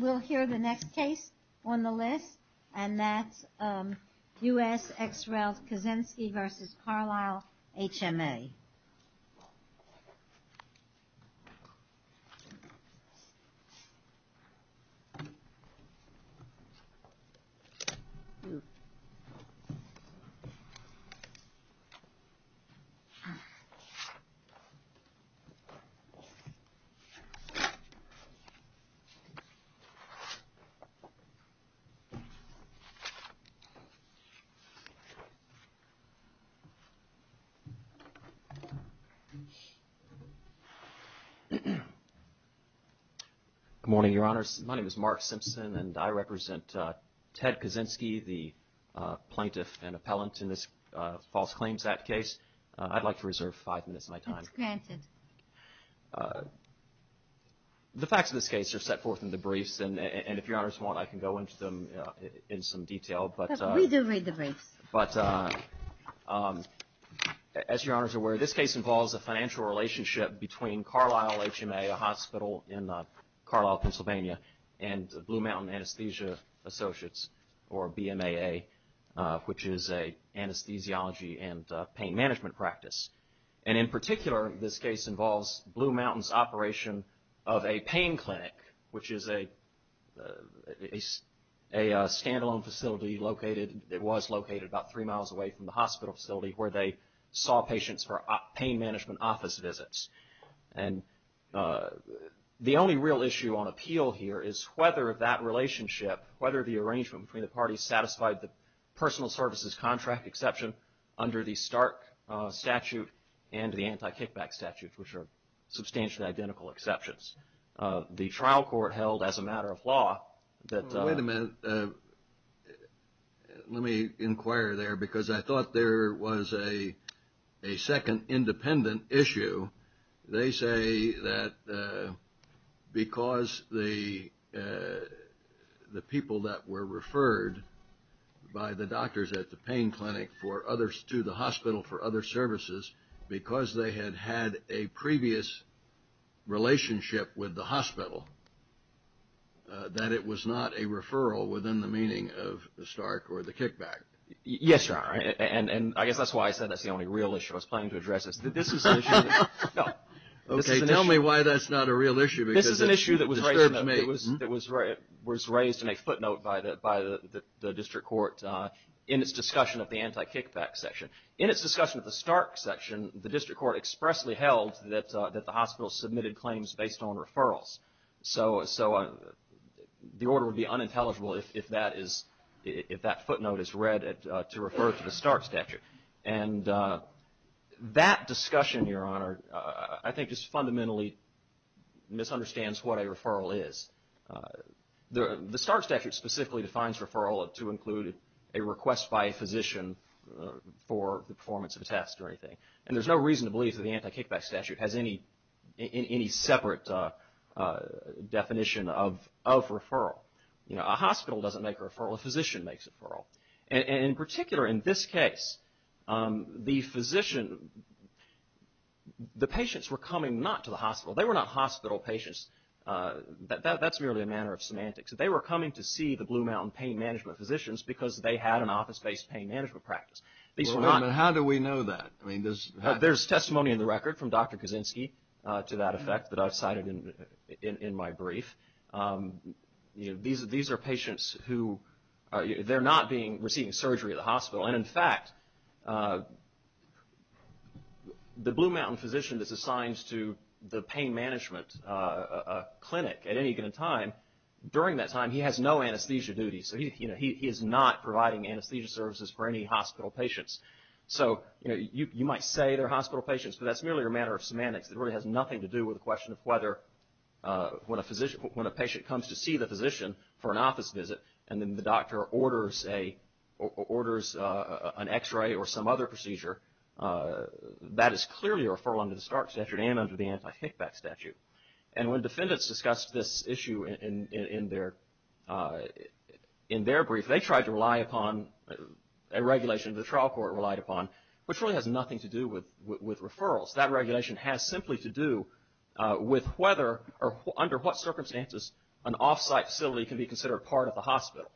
We'll hear the next case on the list, and that's U.S. ex-rel Kaczynski v. Carlisle HMA. Carlisle HMA Good morning, Your Honors. My name is Mark Simpson, and I represent Ted Kaczynski, the plaintiff and appellant in this false claims act case. I'd like to reserve five minutes of my time. The facts of this case are set forth in the briefs, and if Your Honors want, I can go into them in some detail, but as Your Honors are aware, this case involves a financial relationship between Carlisle HMA, a hospital in Carlisle, Pennsylvania, and Blue Mountain Anesthesia Associates, or BMAA, which is an anesthesiology and pain management practice. And in particular, this case involves Blue Mountain's operation of a pain clinic, which is a stand-alone facility located, it was located about three miles away from the hospital facility where they saw patients for pain management office visits. And the only real issue on appeal here is whether that relationship, whether the arrangement between the parties satisfied the personal services contract exception under the Stark statute and the anti-kickback statute, which are substantially identical exceptions. The trial court held as a matter of law that... Yes, Your Honor, and I guess that's why I said that's the only real issue I was planning to address. Okay, tell me why that's not a real issue because it disturbed me. That discussion, Your Honor, I think just fundamentally misunderstands what a referral is. The Stark statute specifically defines referral to include a request by a physician for the performance of a test or anything, and there's no reason to believe that the anti-kickback statute has any separate definition of referral. A hospital doesn't make a referral, a physician makes a referral. In particular, in this case, the physician, the patients were coming not to the hospital. They were not hospital patients. That's merely a matter of semantics. They were coming to see the Blue Mountain pain management physicians because they had an office-based pain management practice. How do we know that? There's testimony in the record from Dr. Kaczynski to that effect that I've cited in my brief. These are patients who are not receiving surgery at the hospital. In fact, the Blue Mountain physician that's assigned to the pain management clinic at any given time, during that time, he has no anesthesia duties. He is not providing anesthesia services for any hospital patients. You might say they're hospital patients, but that's merely a matter of semantics. It really has nothing to do with the question of whether, when a patient comes to see the physician for an office visit, and then the doctor orders an x-ray or some other procedure, that is clearly a referral under the Stark statute and under the anti-kickback statute. When defendants discussed this issue in their brief, they tried to rely upon a regulation the trial court relied upon, which really has nothing to do with referrals. That regulation has simply to do with whether or under what circumstances an off-site facility can be considered part of the hospital.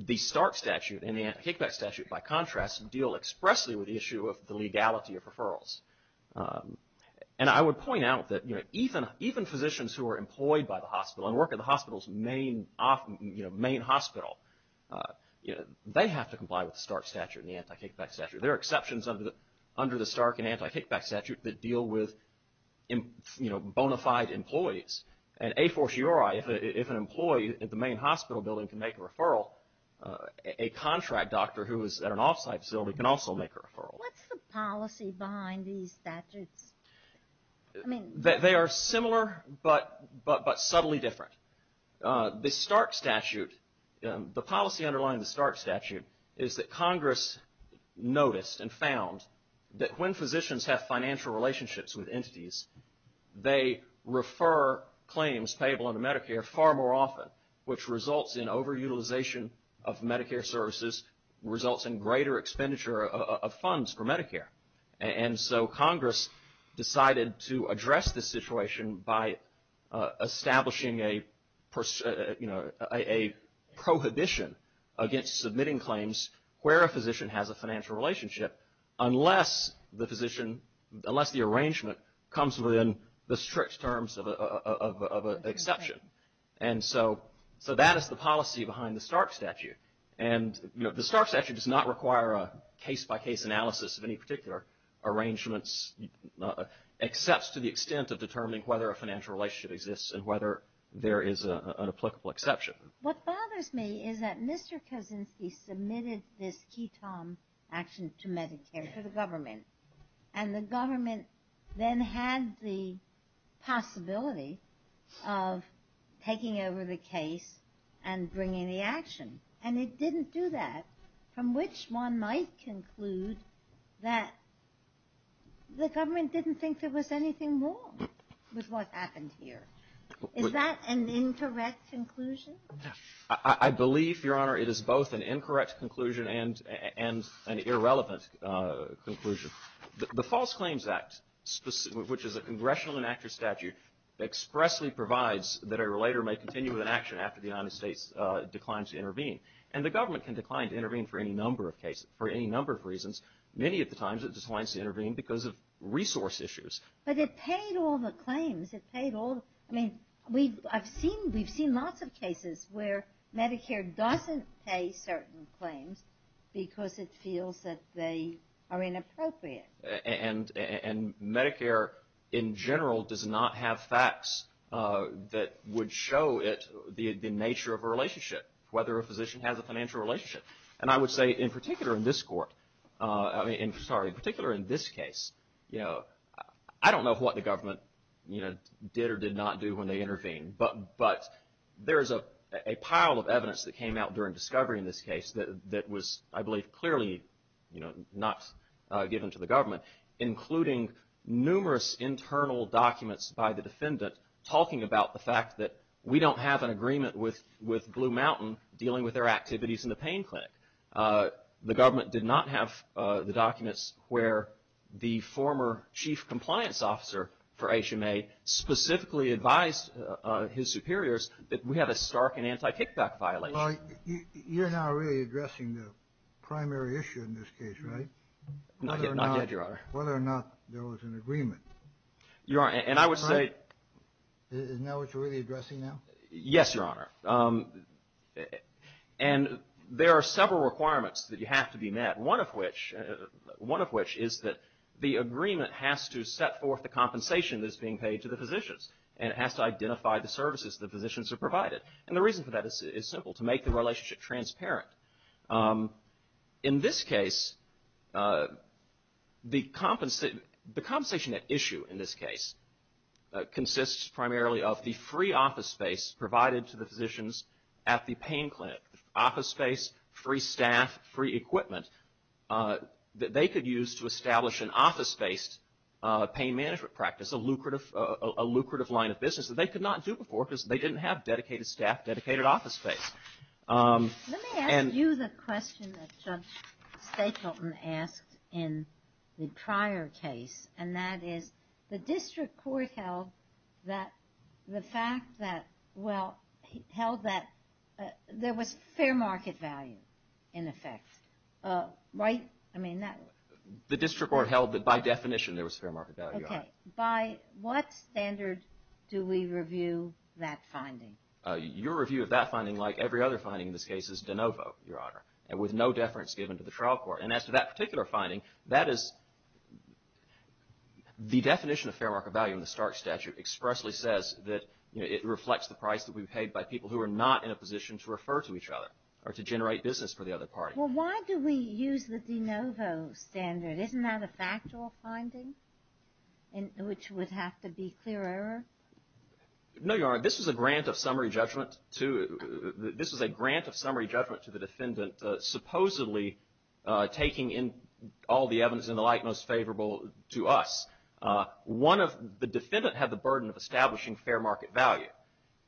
The Stark statute and the anti-kickback statute, by contrast, deal expressly with the issue of the legality of referrals. And I would point out that even physicians who are employed by the hospital and work at the hospital's main hospital, they have to comply with the Stark statute and the anti-kickback statute. There are exceptions under the Stark and anti-kickback statute that deal with, you know, bona fide employees. And a fortiori, if an employee at the main hospital building can make a referral, a contract doctor who is at an off-site facility can also make a referral. What's the policy behind these statutes? They are similar, but subtly different. The Stark statute, the policy underlying the Stark statute is that Congress noticed and found that when physicians have financial relationships with entities, they refer claims payable under Medicare far more often, which results in over-utilization of Medicare services, results in greater expenditure of funds for Medicare. And so Congress decided to address this situation by establishing a, you know, a prohibition against submitting claims where a physician has a financial relationship unless the physician, unless the arrangement comes within the strict terms of an exception. And so that is the policy behind the Stark statute. And, you know, the Stark statute does not require a case-by-case analysis of any particular arrangements, except to the extent of determining whether a financial relationship exists and whether there is an applicable exception. What bothers me is that Mr. Kuczynski submitted this ketamine action to Medicare, to the government, and the government then had the possibility of taking over the case and bringing the action. And it didn't do that, from which one might conclude that the government didn't think there was anything wrong with what happened here. Is that an incorrect conclusion? I believe, Your Honor, it is both an incorrect conclusion and an irrelevant conclusion. The False Claims Act, which is a congressional enacted statute, expressly provides that a relator may continue with an action after the United States declines to intervene. And the government can decline to intervene for any number of cases, for any number of reasons. Many of the times it declines to intervene because of resource issues. But it paid all the claims. I mean, we've seen lots of cases where Medicare doesn't pay certain claims because it feels that they are inappropriate. And Medicare, in general, does not have facts that would show it the nature of a relationship, whether a physician has a financial relationship. And I would say, in particular in this court, I mean, sorry, in particular in this case, I don't know what the government did or did not do when they intervened. But there is a pile of evidence that came out during discovery in this case that was, I believe, clearly not given to the government, including numerous internal documents by the defendant talking about the fact that we don't have an agreement with Blue Mountain dealing with their activities in the pain clinic. The government did not have the documents where the former chief compliance officer for HMA specifically advised his superiors that we have a stark and anti-kickback violation. Well, you're not really addressing the primary issue in this case, right? Not yet, Your Honor. Whether or not there was an agreement. Your Honor, and I would say. Isn't that what you're really addressing now? Yes, Your Honor. And there are several requirements that you have to be met, one of which is that the agreement has to set forth the compensation that is being paid to the physicians and it has to identify the services the physicians are provided. And the reason for that is simple, to make the relationship transparent. In this case, the compensation at issue in this case consists primarily of the free office space provided to the physicians at the pain clinic. Office space, free staff, free equipment that they could use to establish an office-based pain management practice, a lucrative line of business that they could not do before because they didn't have dedicated staff, dedicated office space. Let me ask you the question that Judge Stapleton asked in the prior case, and that is the district court held that the fact that, well, held that there was fair market value in effect, right? I mean that. The district court held that by definition there was fair market value, Your Honor. Okay. By what standard do we review that finding? Your review of that finding, like every other finding in this case, is de novo, Your Honor, with no deference given to the trial court. And as to that particular finding, that is the definition of fair market value in the Stark statute expressly says that, you know, it reflects the price that we've paid by people who are not in a position to refer to each other or to generate business for the other party. Well, why do we use the de novo standard? Isn't that a factual finding which would have to be clear error? No, Your Honor. This is a grant of summary judgment to the defendant supposedly taking in all the evidence in the light most favorable to us. One of the defendant had the burden of establishing fair market value,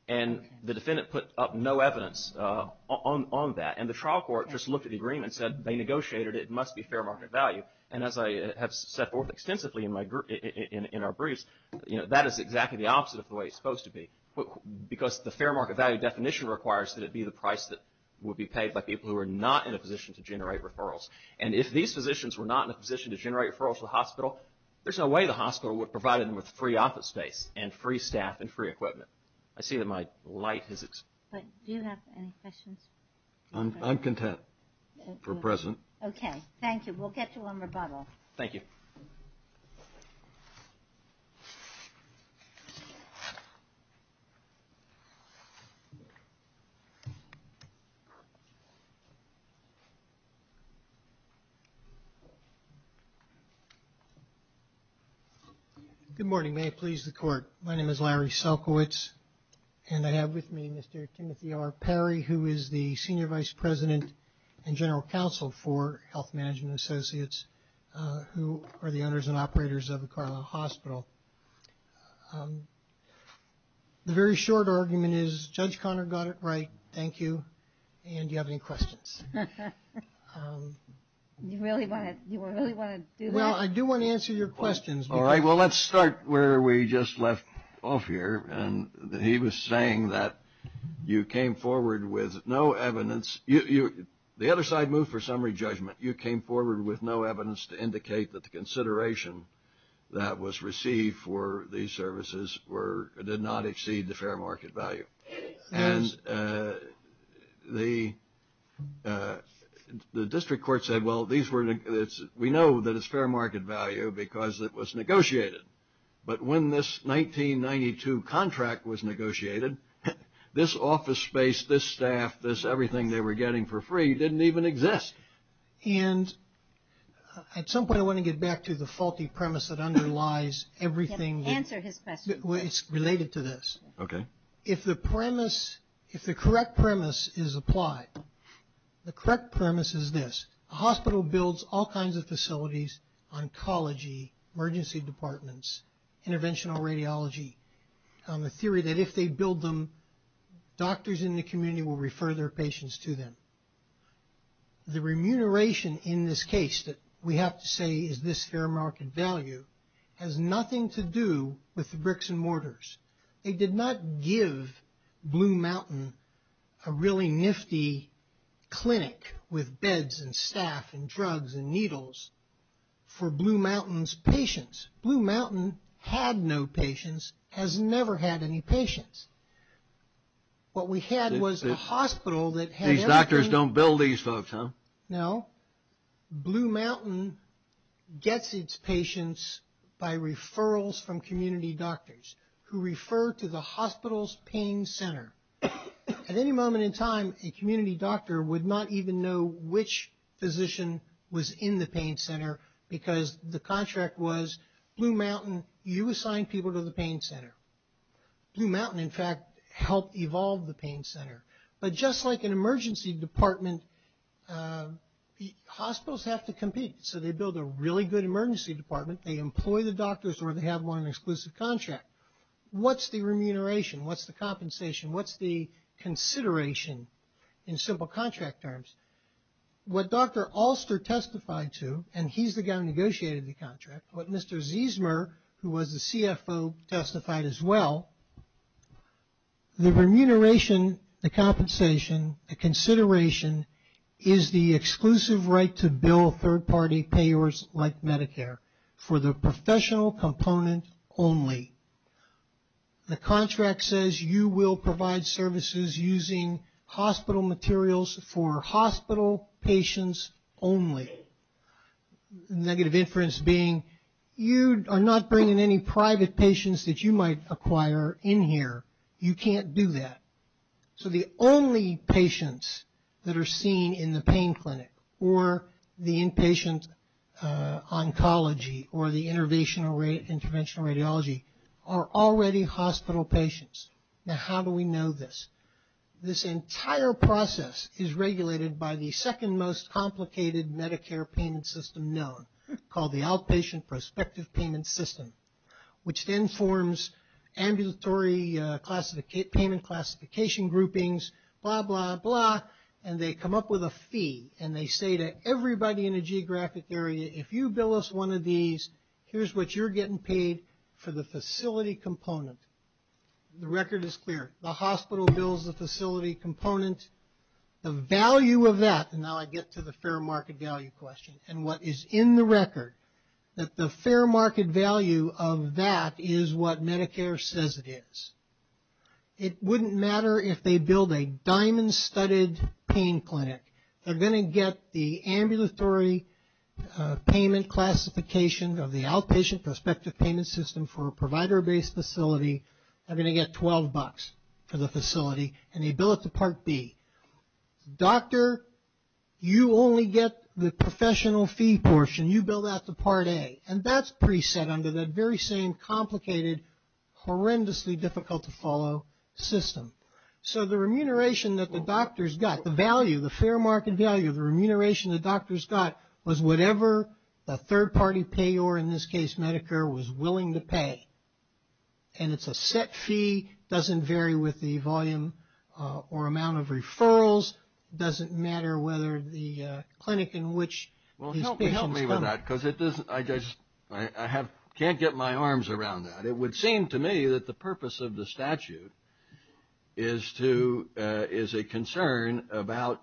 and the defendant put up no evidence on that. And the trial court just looked at the agreement and said they negotiated it. It must be fair market value. And as I have set forth extensively in our briefs, you know, that is exactly the opposite of the way it's supposed to be. Because the fair market value definition requires that it be the price that would be paid by people who are not in a position to generate referrals. And if these physicians were not in a position to generate referrals to the hospital, there's no way the hospital would provide them with free office space and free staff and free equipment. I see that my light has expired. Do you have any questions? I'm content for present. Okay. Thank you. We'll catch you on rebuttal. Thank you. Good morning. May it please the Court. My name is Larry Selkowitz, and I have with me Mr. Timothy R. Perry, who is the Senior Vice President and General Counsel for Health Management Associates, who are the owners and operators of the Carlisle Hospital. The very short argument is Judge Conner got it right. Thank you. And do you have any questions? You really want to do that? Well, I do want to answer your questions. All right. Well, let's start where we just left off here. And he was saying that you came forward with no evidence. The other side moved for summary judgment. You came forward with no evidence to indicate that the consideration that was received for these services did not exceed the fair market value. And the district court said, well, we know that it's fair market value because it was negotiated. But when this 1992 contract was negotiated, this office space, this staff, this everything they were getting for free didn't even exist. And at some point I want to get back to the faulty premise that underlies everything. Answer his question. It's related to this. Okay. If the premise, if the correct premise is applied, the correct premise is this. A hospital builds all kinds of facilities, oncology, emergency departments, interventional radiology, the theory that if they build them, doctors in the community will refer their patients to them. The remuneration in this case that we have to say is this fair market value has nothing to do with the bricks and mortars. They did not give Blue Mountain a really nifty clinic with beds and staff and drugs and needles for Blue Mountain's patients. Blue Mountain had no patients, has never had any patients. What we had was a hospital that had everything. These doctors don't build these folks, huh? No. Blue Mountain gets its patients by referrals from community doctors who refer to the hospital's pain center. At any moment in time, a community doctor would not even know which physician was in the pain center because the contract was Blue Mountain, you assign people to the pain center. Blue Mountain, in fact, helped evolve the pain center. But just like an emergency department, hospitals have to compete. So they build a really good emergency department. They employ the doctors or they have one exclusive contract. What's the remuneration? What's the compensation? What's the consideration in simple contract terms? What Dr. Alster testified to, and he's the guy who negotiated the contract, what Mr. Ziesmer, who was the CFO, testified as well, the remuneration, the compensation, the consideration is the exclusive right to bill third-party payers like Medicare for the professional component only. The contract says you will provide services using hospital materials for hospital patients only. Negative inference being you are not bringing any private patients that you might acquire in here. You can't do that. So the only patients that are seen in the pain clinic or the inpatient oncology or the interventional radiology are already hospital patients. Now how do we know this? This entire process is regulated by the second most complicated Medicare payment system known, called the outpatient prospective payment system, which then forms ambulatory payment classification groupings, blah, blah, blah, and they come up with a fee, and they say to everybody in a geographic area, if you bill us one of these, here's what you're getting paid for the facility component. The record is clear. The hospital bills the facility component. The value of that, and now I get to the fair market value question, and what is in the record, that the fair market value of that is what Medicare says it is. It wouldn't matter if they billed a diamond studded pain clinic. They're going to get the ambulatory payment classification of the outpatient prospective payment system for a provider-based facility. They're going to get 12 bucks for the facility, and they bill it to Part B. Doctor, you only get the professional fee portion. You bill that to Part A, and that's preset under that very same complicated, horrendously difficult to follow system. So the remuneration that the doctors got, the value, the fair market value, the remuneration the doctors got was whatever the third party payor, in this case Medicare, was willing to pay, and it's a set fee. It doesn't vary with the volume or amount of referrals. It doesn't matter whether the clinic in which his patient is coming. Well, help me with that because I can't get my arms around that. It would seem to me that the purpose of the statute is a concern about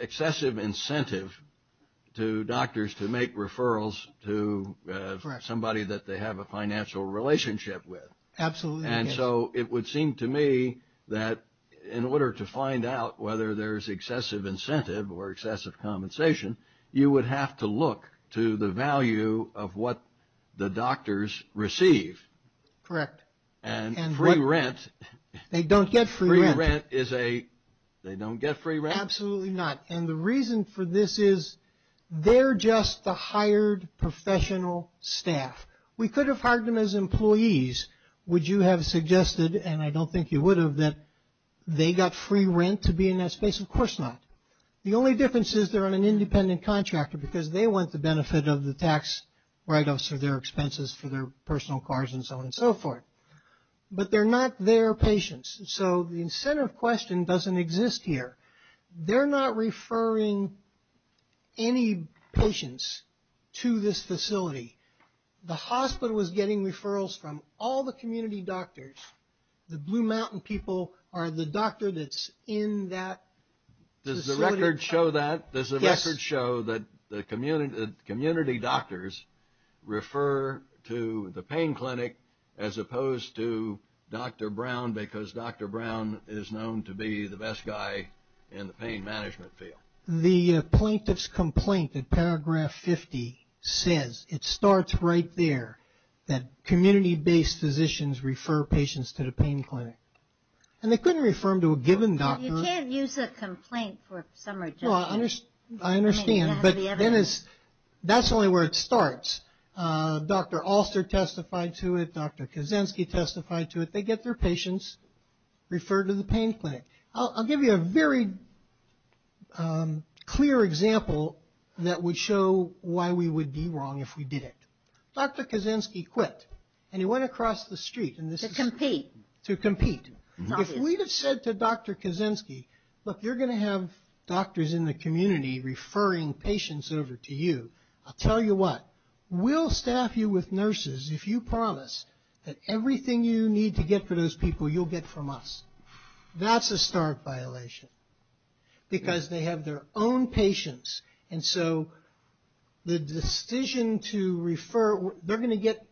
excessive incentive to doctors to make referrals to somebody that they have a And so it would seem to me that in order to find out whether there's excessive incentive or excessive compensation, you would have to look to the value of what the doctors receive. Correct. And free rent. They don't get free rent. Free rent is a, they don't get free rent? Absolutely not. And the reason for this is they're just the hired professional staff. If we could have hired them as employees, would you have suggested, and I don't think you would have, that they got free rent to be in that space? Of course not. The only difference is they're on an independent contractor because they want the benefit of the tax write-offs for their expenses for their personal cars and so on and so forth. But they're not their patients. So the incentive question doesn't exist here. They're not referring any patients to this facility. The hospital is getting referrals from all the community doctors. The Blue Mountain people are the doctor that's in that facility. Does the record show that? Yes. Does the record show that the community doctors refer to the pain clinic as opposed to Dr. Brown because Dr. Brown is known to be the best guy in the pain management field? The plaintiff's complaint in paragraph 50 says, it starts right there, that community-based physicians refer patients to the pain clinic. And they couldn't refer them to a given doctor. You can't use a complaint for some reason. I understand. But that's only where it starts. Dr. Alster testified to it. Dr. Kozinski testified to it. They get their patients referred to the pain clinic. I'll give you a very clear example that would show why we would be wrong if we did it. Dr. Kozinski quit and he went across the street. To compete. To compete. If we had said to Dr. Kozinski, look, you're going to have doctors in the community referring patients over to you, I'll tell you what, we'll staff you with nurses if you promise that everything you need to get for those people you'll get from us. That's a stark violation. Because they have their own patients. And so the decision to refer, they're going to get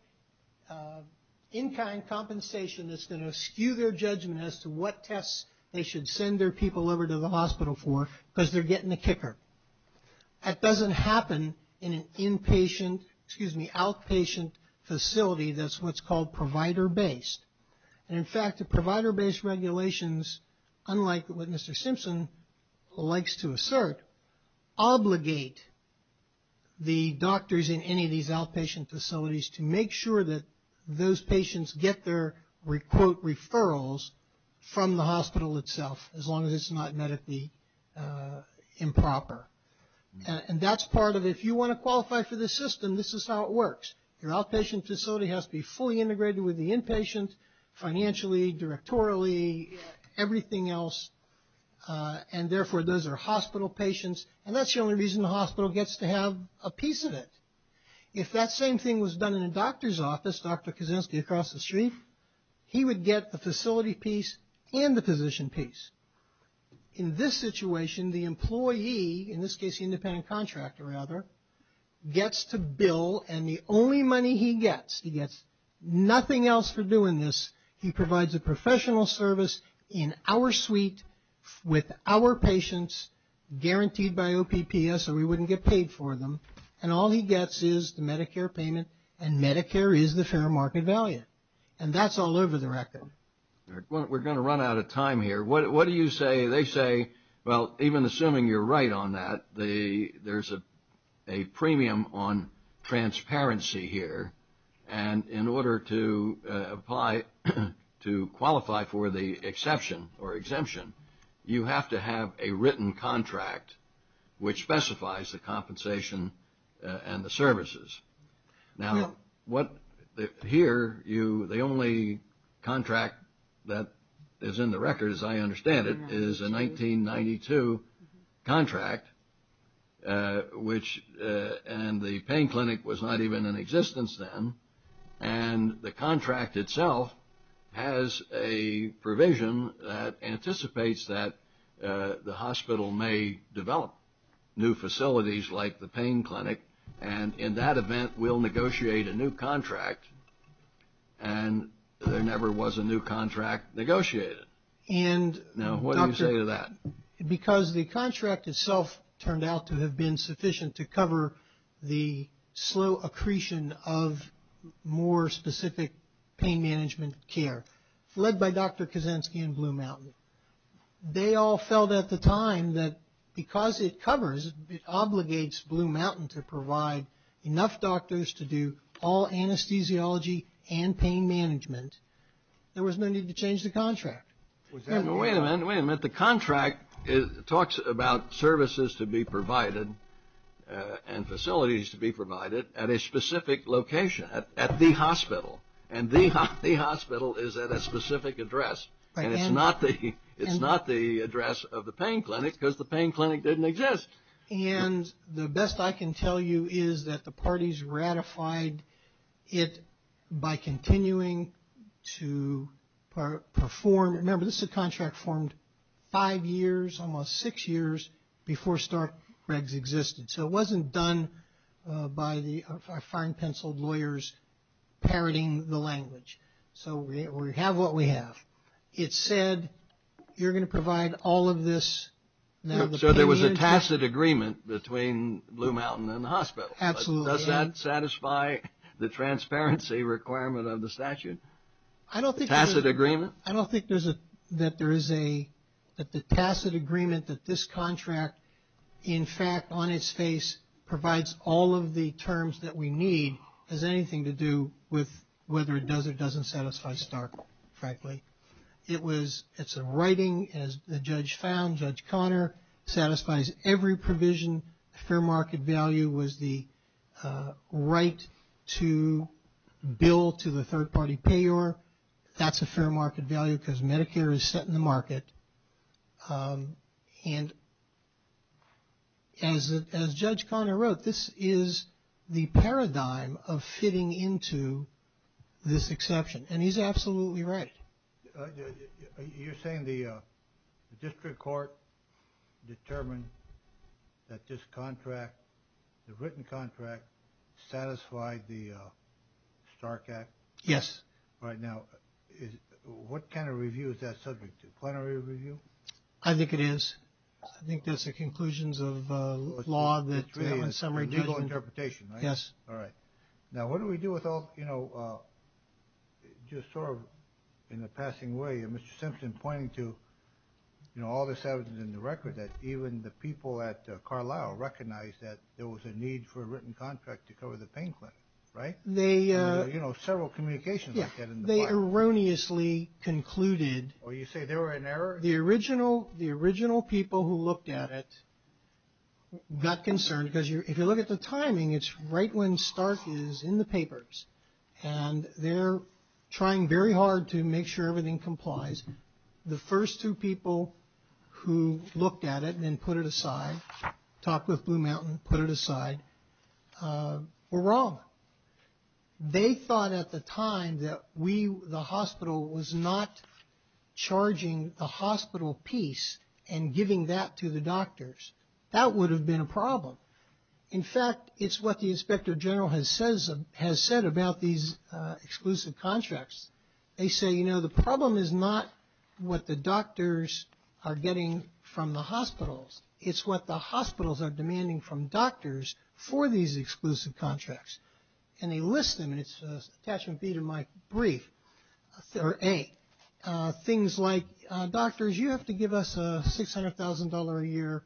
in-kind compensation that's going to skew their judgment as to what tests they should send their people over to the hospital for because they're getting the kicker. That doesn't happen in an inpatient, excuse me, outpatient facility that's what's called provider-based. And in fact, the provider-based regulations, unlike what Mr. Simpson likes to assert, obligate the doctors in any of these outpatient facilities to make sure that those patients get their, quote, referrals from the hospital itself as long as it's not met at the improper. And that's part of it. If you want to qualify for the system, this is how it works. Your outpatient facility has to be fully integrated with the inpatient, financially, directorially, everything else, and therefore those are hospital patients. And that's the only reason the hospital gets to have a piece of it. If that same thing was done in a doctor's office, Dr. Kozinski across the street, he would get the facility piece and the physician piece. In this situation, the employee, in this case the independent contractor rather, gets to bill and the only money he gets, he gets nothing else for doing this, he provides a professional service in our suite with our patients guaranteed by OPPS or we wouldn't get paid for them, and all he gets is the Medicare payment, and Medicare is the fair market value. And that's all over the record. We're going to run out of time here. What do you say, they say, well, even assuming you're right on that, there's a premium on transparency here, and in order to qualify for the exception or exemption, you have to have a written contract which specifies the compensation and the services. Now, here, the only contract that is in the record, as I understand it, is a 1992 contract, which, and the pain clinic was not even in existence then, and the contract itself has a provision that anticipates that the hospital may develop new facilities like the pain clinic, and in that event, we'll negotiate a new contract, and there never was a new contract negotiated. Now, what do you say to that? Because the contract itself turned out to have been sufficient to cover the slow accretion of more specific pain management care, led by Dr. Kaczynski and Blue Mountain. They all felt at the time that because it covers, it obligates Blue Mountain to provide enough doctors to do all anesthesiology and pain management, there was no need to change the contract. Wait a minute. Wait a minute. The contract talks about services to be provided and facilities to be provided at a specific location, at the hospital, and the hospital is at a specific address, and it's not the address of the pain clinic because the pain clinic didn't exist. And the best I can tell you is that the parties ratified it by continuing to perform. Remember, this is a contract formed five years, almost six years, before Starkregs existed. So it wasn't done by the fine-penciled lawyers parroting the language. So we have what we have. It said you're going to provide all of this. So there was a tacit agreement between Blue Mountain and the hospital. Absolutely. Does that satisfy the transparency requirement of the statute? A tacit agreement? I don't think that there is a tacit agreement that this contract, in fact, on its face, provides all of the terms that we need has anything to do with whether it does or doesn't satisfy Stark, frankly. It's a writing, as the judge found, Judge Connor, satisfies every provision. Fair market value was the right to bill to the third party payor. That's a fair market value because Medicare is set in the market. And as Judge Connor wrote, this is the paradigm of fitting into this exception. And he's absolutely right. You're saying the district court determined that this contract, the written contract, satisfied the Stark Act? Yes. Right now, what kind of review is that subject to? Plenary review? I think it is. I think that's the conclusions of law that we have in summary judgment. Legal interpretation, right? Yes. All right. Now, what do we do with all, you know, just sort of in the passing way of Mr. Simpson pointing to, you know, all this evidence in the record that even the people at Carlisle recognized that there was a need for a written contract to cover the pain clinic, right? They, you know, several communications like that. They erroneously concluded. Oh, you say there were an error? The original, the original people who looked at it got concerned because if you look at the cases in the papers and they're trying very hard to make sure everything complies, the first two people who looked at it and then put it aside, talked with Blue Mountain, put it aside, were wrong. They thought at the time that we, the hospital was not charging the hospital piece and giving that to the doctors. That would have been a problem. In fact, it's what the inspector general has said about these exclusive contracts. They say, you know, the problem is not what the doctors are getting from the hospitals. It's what the hospitals are demanding from doctors for these exclusive contracts. And they list them and it's attachment B to my brief. Or A, things like doctors, you have to give us a $600,000 a year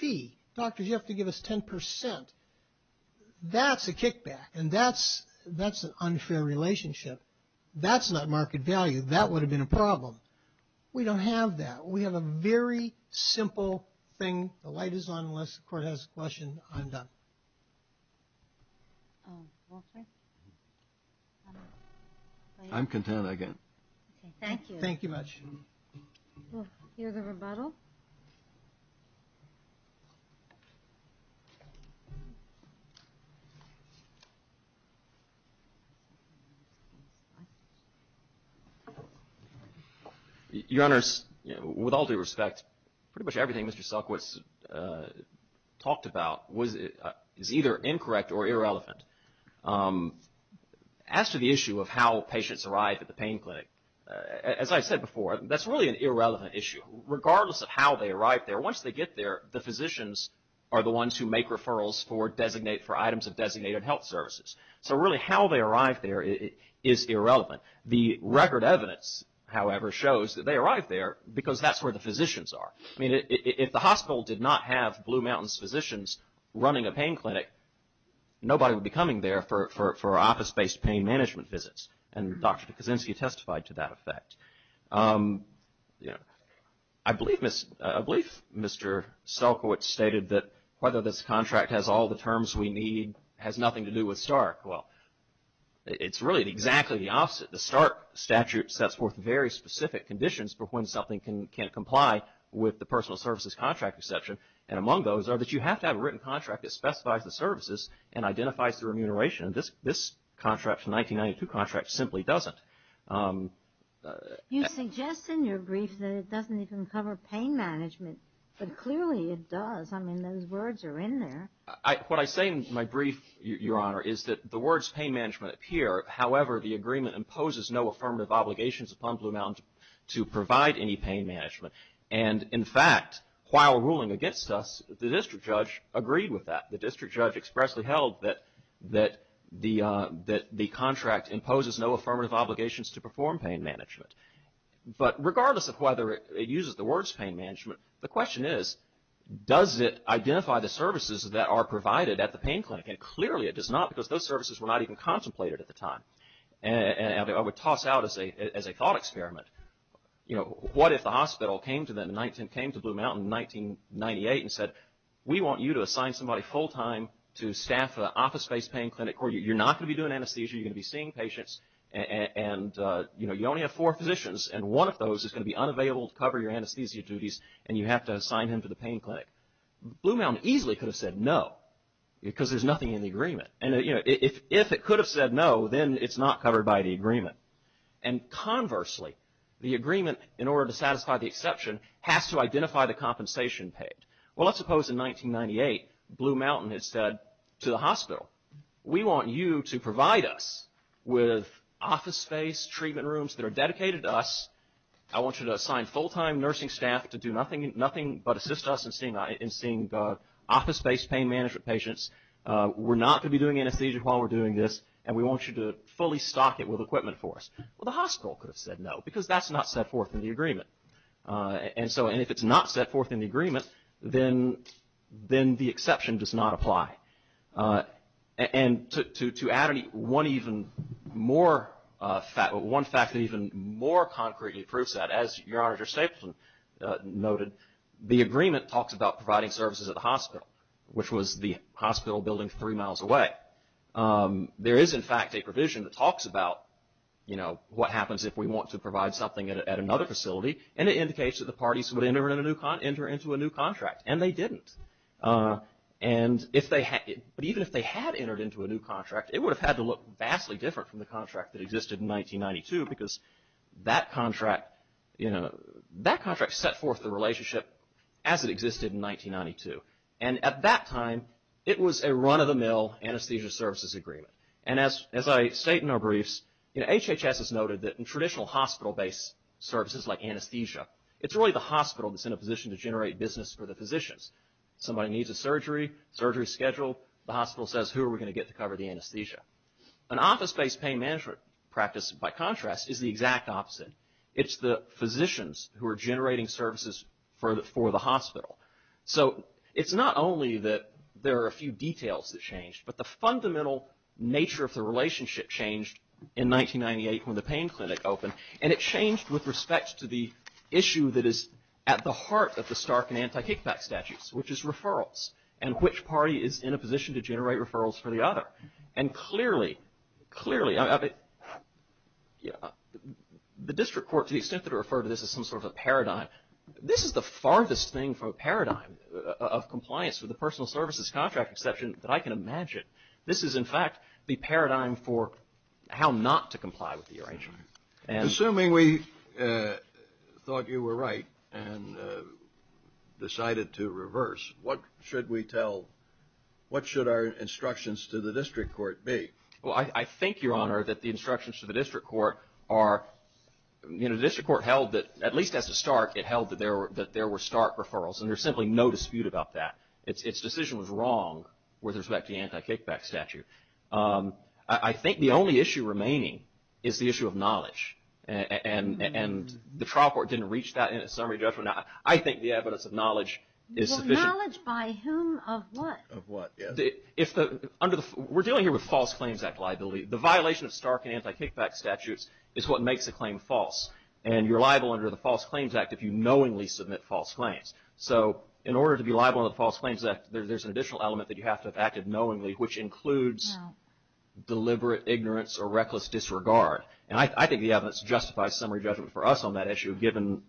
fee. Doctors, you have to give us 10%. That's a kickback. And that's, that's an unfair relationship. That's not market value. That would have been a problem. We don't have that. We have a very simple thing. The light is on unless the court has a question. I'm done. I'm content again. Thank you. Thank you much. We'll hear the rebuttal. Your Honor, with all due respect, pretty much everything Mr. Sulkowicz talked about was, is either incorrect or irrelevant. As to the issue of how patients arrive at the pain clinic, as I said before, that's really an irrelevant issue. Regardless of how they arrive there, once they get there, the physicians are the ones who make referrals for designated, for items of designated health services. So really how they arrive there is irrelevant. The record evidence, however, shows that they arrive there because that's where the physicians are. I mean, if the hospital did not have Blue Mountains physicians running a pain clinic, nobody would be coming there for office-based pain management visits. And Dr. Kuczynski testified to that effect. I believe Mr. Sulkowicz stated that whether this contract has all the terms we need has nothing to do with Stark. Well, it's really exactly the opposite. The Stark statute sets forth very specific conditions for when something can comply with the personal services contract exception. And among those are that you have to have a written contract that specifies the services and identifies the remuneration. This contract, the 1992 contract, simply doesn't. You suggest in your brief that it doesn't even cover pain management, but clearly it does. I mean, those words are in there. What I say in my brief, Your Honor, is that the words pain management appear. However, the agreement imposes no affirmative obligations upon Blue Mountains to provide any pain management. And in fact, while ruling against us, the district judge agreed with that. The district judge expressly held that the contract imposes no affirmative obligations to perform pain management. But regardless of whether it uses the words pain management, the question is, does it identify the services that are provided at the pain clinic? And clearly it does not, because those services were not even contemplated at the time. And I would toss out as a thought experiment, you know, what if the hospital came to Blue Mountain in 1998 and said, we want you to assign somebody full-time to staff an office-based pain clinic where you're not going to be doing anesthesia, you're going to be seeing patients and, you know, you only have four physicians and one of those is going to be unavailable to cover your anesthesia duties and you have to assign him to the pain clinic. Blue Mountain easily could have said no, because there's nothing in the agreement. And, you know, if it could have said no, then it's not covered by the agreement. And conversely, the agreement, in order to satisfy the exception, has to identify the compensation paid. Well, let's suppose in 1998, Blue Mountain had said to the hospital, we want you to provide us with office-based treatment rooms that are dedicated to us. I want you to assign full-time nursing staff to do nothing but assist us in seeing office-based pain management patients. We're not going to be doing anesthesia while we're doing this, and we want you to fully stock it with equipment for us. Well, the hospital could have said no, because that's not set forth in the agreement. And so, and if it's not set forth in the agreement, then the exception does not apply. And to add one even more, one fact that even more concretely proves that, as your Honor, Judge Stapleton noted, the agreement talks about providing services at the hospital, which was the hospital building three miles away. There is, in fact, a provision that talks about, you know, what happens if we want to provide something at another facility, and it indicates that the parties would enter into a new contract. And they didn't. But even if they had entered into a new contract, it would have had to look vastly different from the contract that existed in 1992, because that contract, you know, that contract set forth the relationship as it existed in 1992. And at that time, it was a run-of-the-mill anesthesia services agreement. And as I state in our briefs, you know, HHS has noted that in traditional hospital-based services like anesthesia, it's really the hospital that's in a position to generate business for the patient. Somebody needs a surgery, surgery's scheduled, the hospital says, who are we going to get to cover the anesthesia? An office-based pain management practice, by contrast, is the exact opposite. It's the physicians who are generating services for the hospital. So it's not only that there are a few details that changed, but the fundamental nature of the relationship changed in 1998 when the pain clinic opened. And it changed with respect to the issue that is at the heart of the Stark and which party is in a position to generate referrals for the other. And clearly, clearly, I mean, you know, the district court, to the extent that I refer to this as some sort of a paradigm, this is the farthest thing from a paradigm of compliance with the personal services contract exception that I can imagine. This is, in fact, the paradigm for how not to comply with the arrangement. Assuming we thought you were right and decided to reverse, what should we tell, what should our instructions to the district court be? I think, Your Honor, that the instructions to the district court are, you know, the district court held that at least as a Stark, it held that there were Stark referrals. And there's simply no dispute about that. Its decision was wrong with respect to the anti-kickback statute. I think the only issue remaining is the issue of knowledge. And the trial court didn't reach that in its summary judgment. I think the evidence of knowledge is sufficient. Knowledge by whom, of what? Of what, yes. We're dealing here with False Claims Act liability. The violation of Stark and anti-kickback statutes is what makes a claim false. And you're liable under the False Claims Act if you knowingly submit false claims. So in order to be liable under the False Claims Act, there's an additional element that you have to have acted knowingly, which includes deliberate ignorance or reckless disregard. And I think the evidence justifies summary judgment for us on that issue, given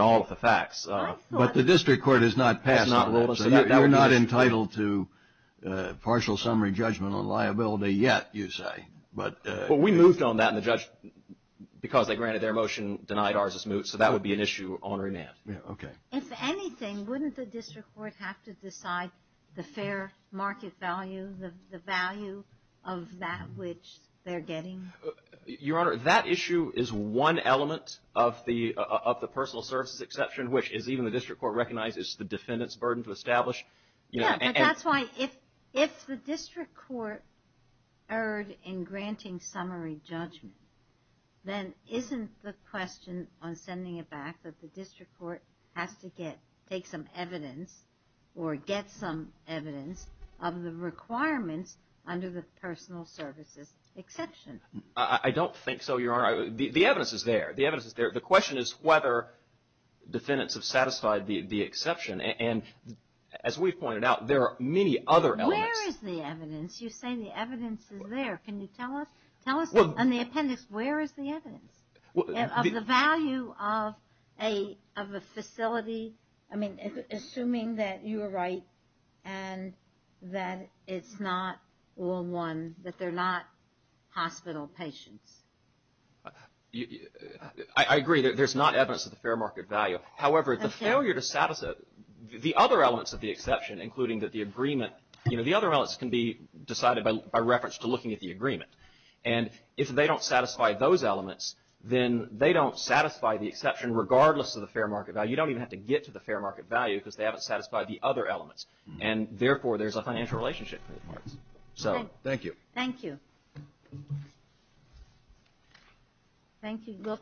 all of the facts. But the district court has not passed that law, so you're not entitled to partial summary judgment on liability yet, you say. But we moved on that, and the judge, because they granted their motion, denied ours as moot. So that would be an issue on remand. Okay. If anything, wouldn't the district court have to decide the fair market value, the value of that which they're getting? Your Honor, that issue is one element of the personal services exception, which is even the district court recognizes the defendant's burden to establish. Yeah. But that's why if the district court erred in granting summary judgment, then isn't the question on sending it back that the district court has to get, take some evidence or get some evidence of the requirements under the personal services exception? I don't think so, Your Honor. The evidence is there. The evidence is there. The question is whether defendants have satisfied the exception, and as we've pointed out, there are many other elements. Where is the evidence? You say the evidence is there. Can you tell us? Tell us on the appendix, where is the evidence of the value of a facility? I mean, assuming that you are right and that it's not all one, that they're not hospital patients. I agree. There's not evidence of the fair market value. However, the failure to satisfy the other elements of the exception, including that the agreement, you know, the other elements can be decided by reference to looking at the agreement, and if they don't satisfy those elements, then they don't satisfy the exception regardless of the fair market value. You don't even have to get to the fair market value because they haven't satisfied the other elements, and therefore there's a financial relationship. Thank you. Thank you. Thank you.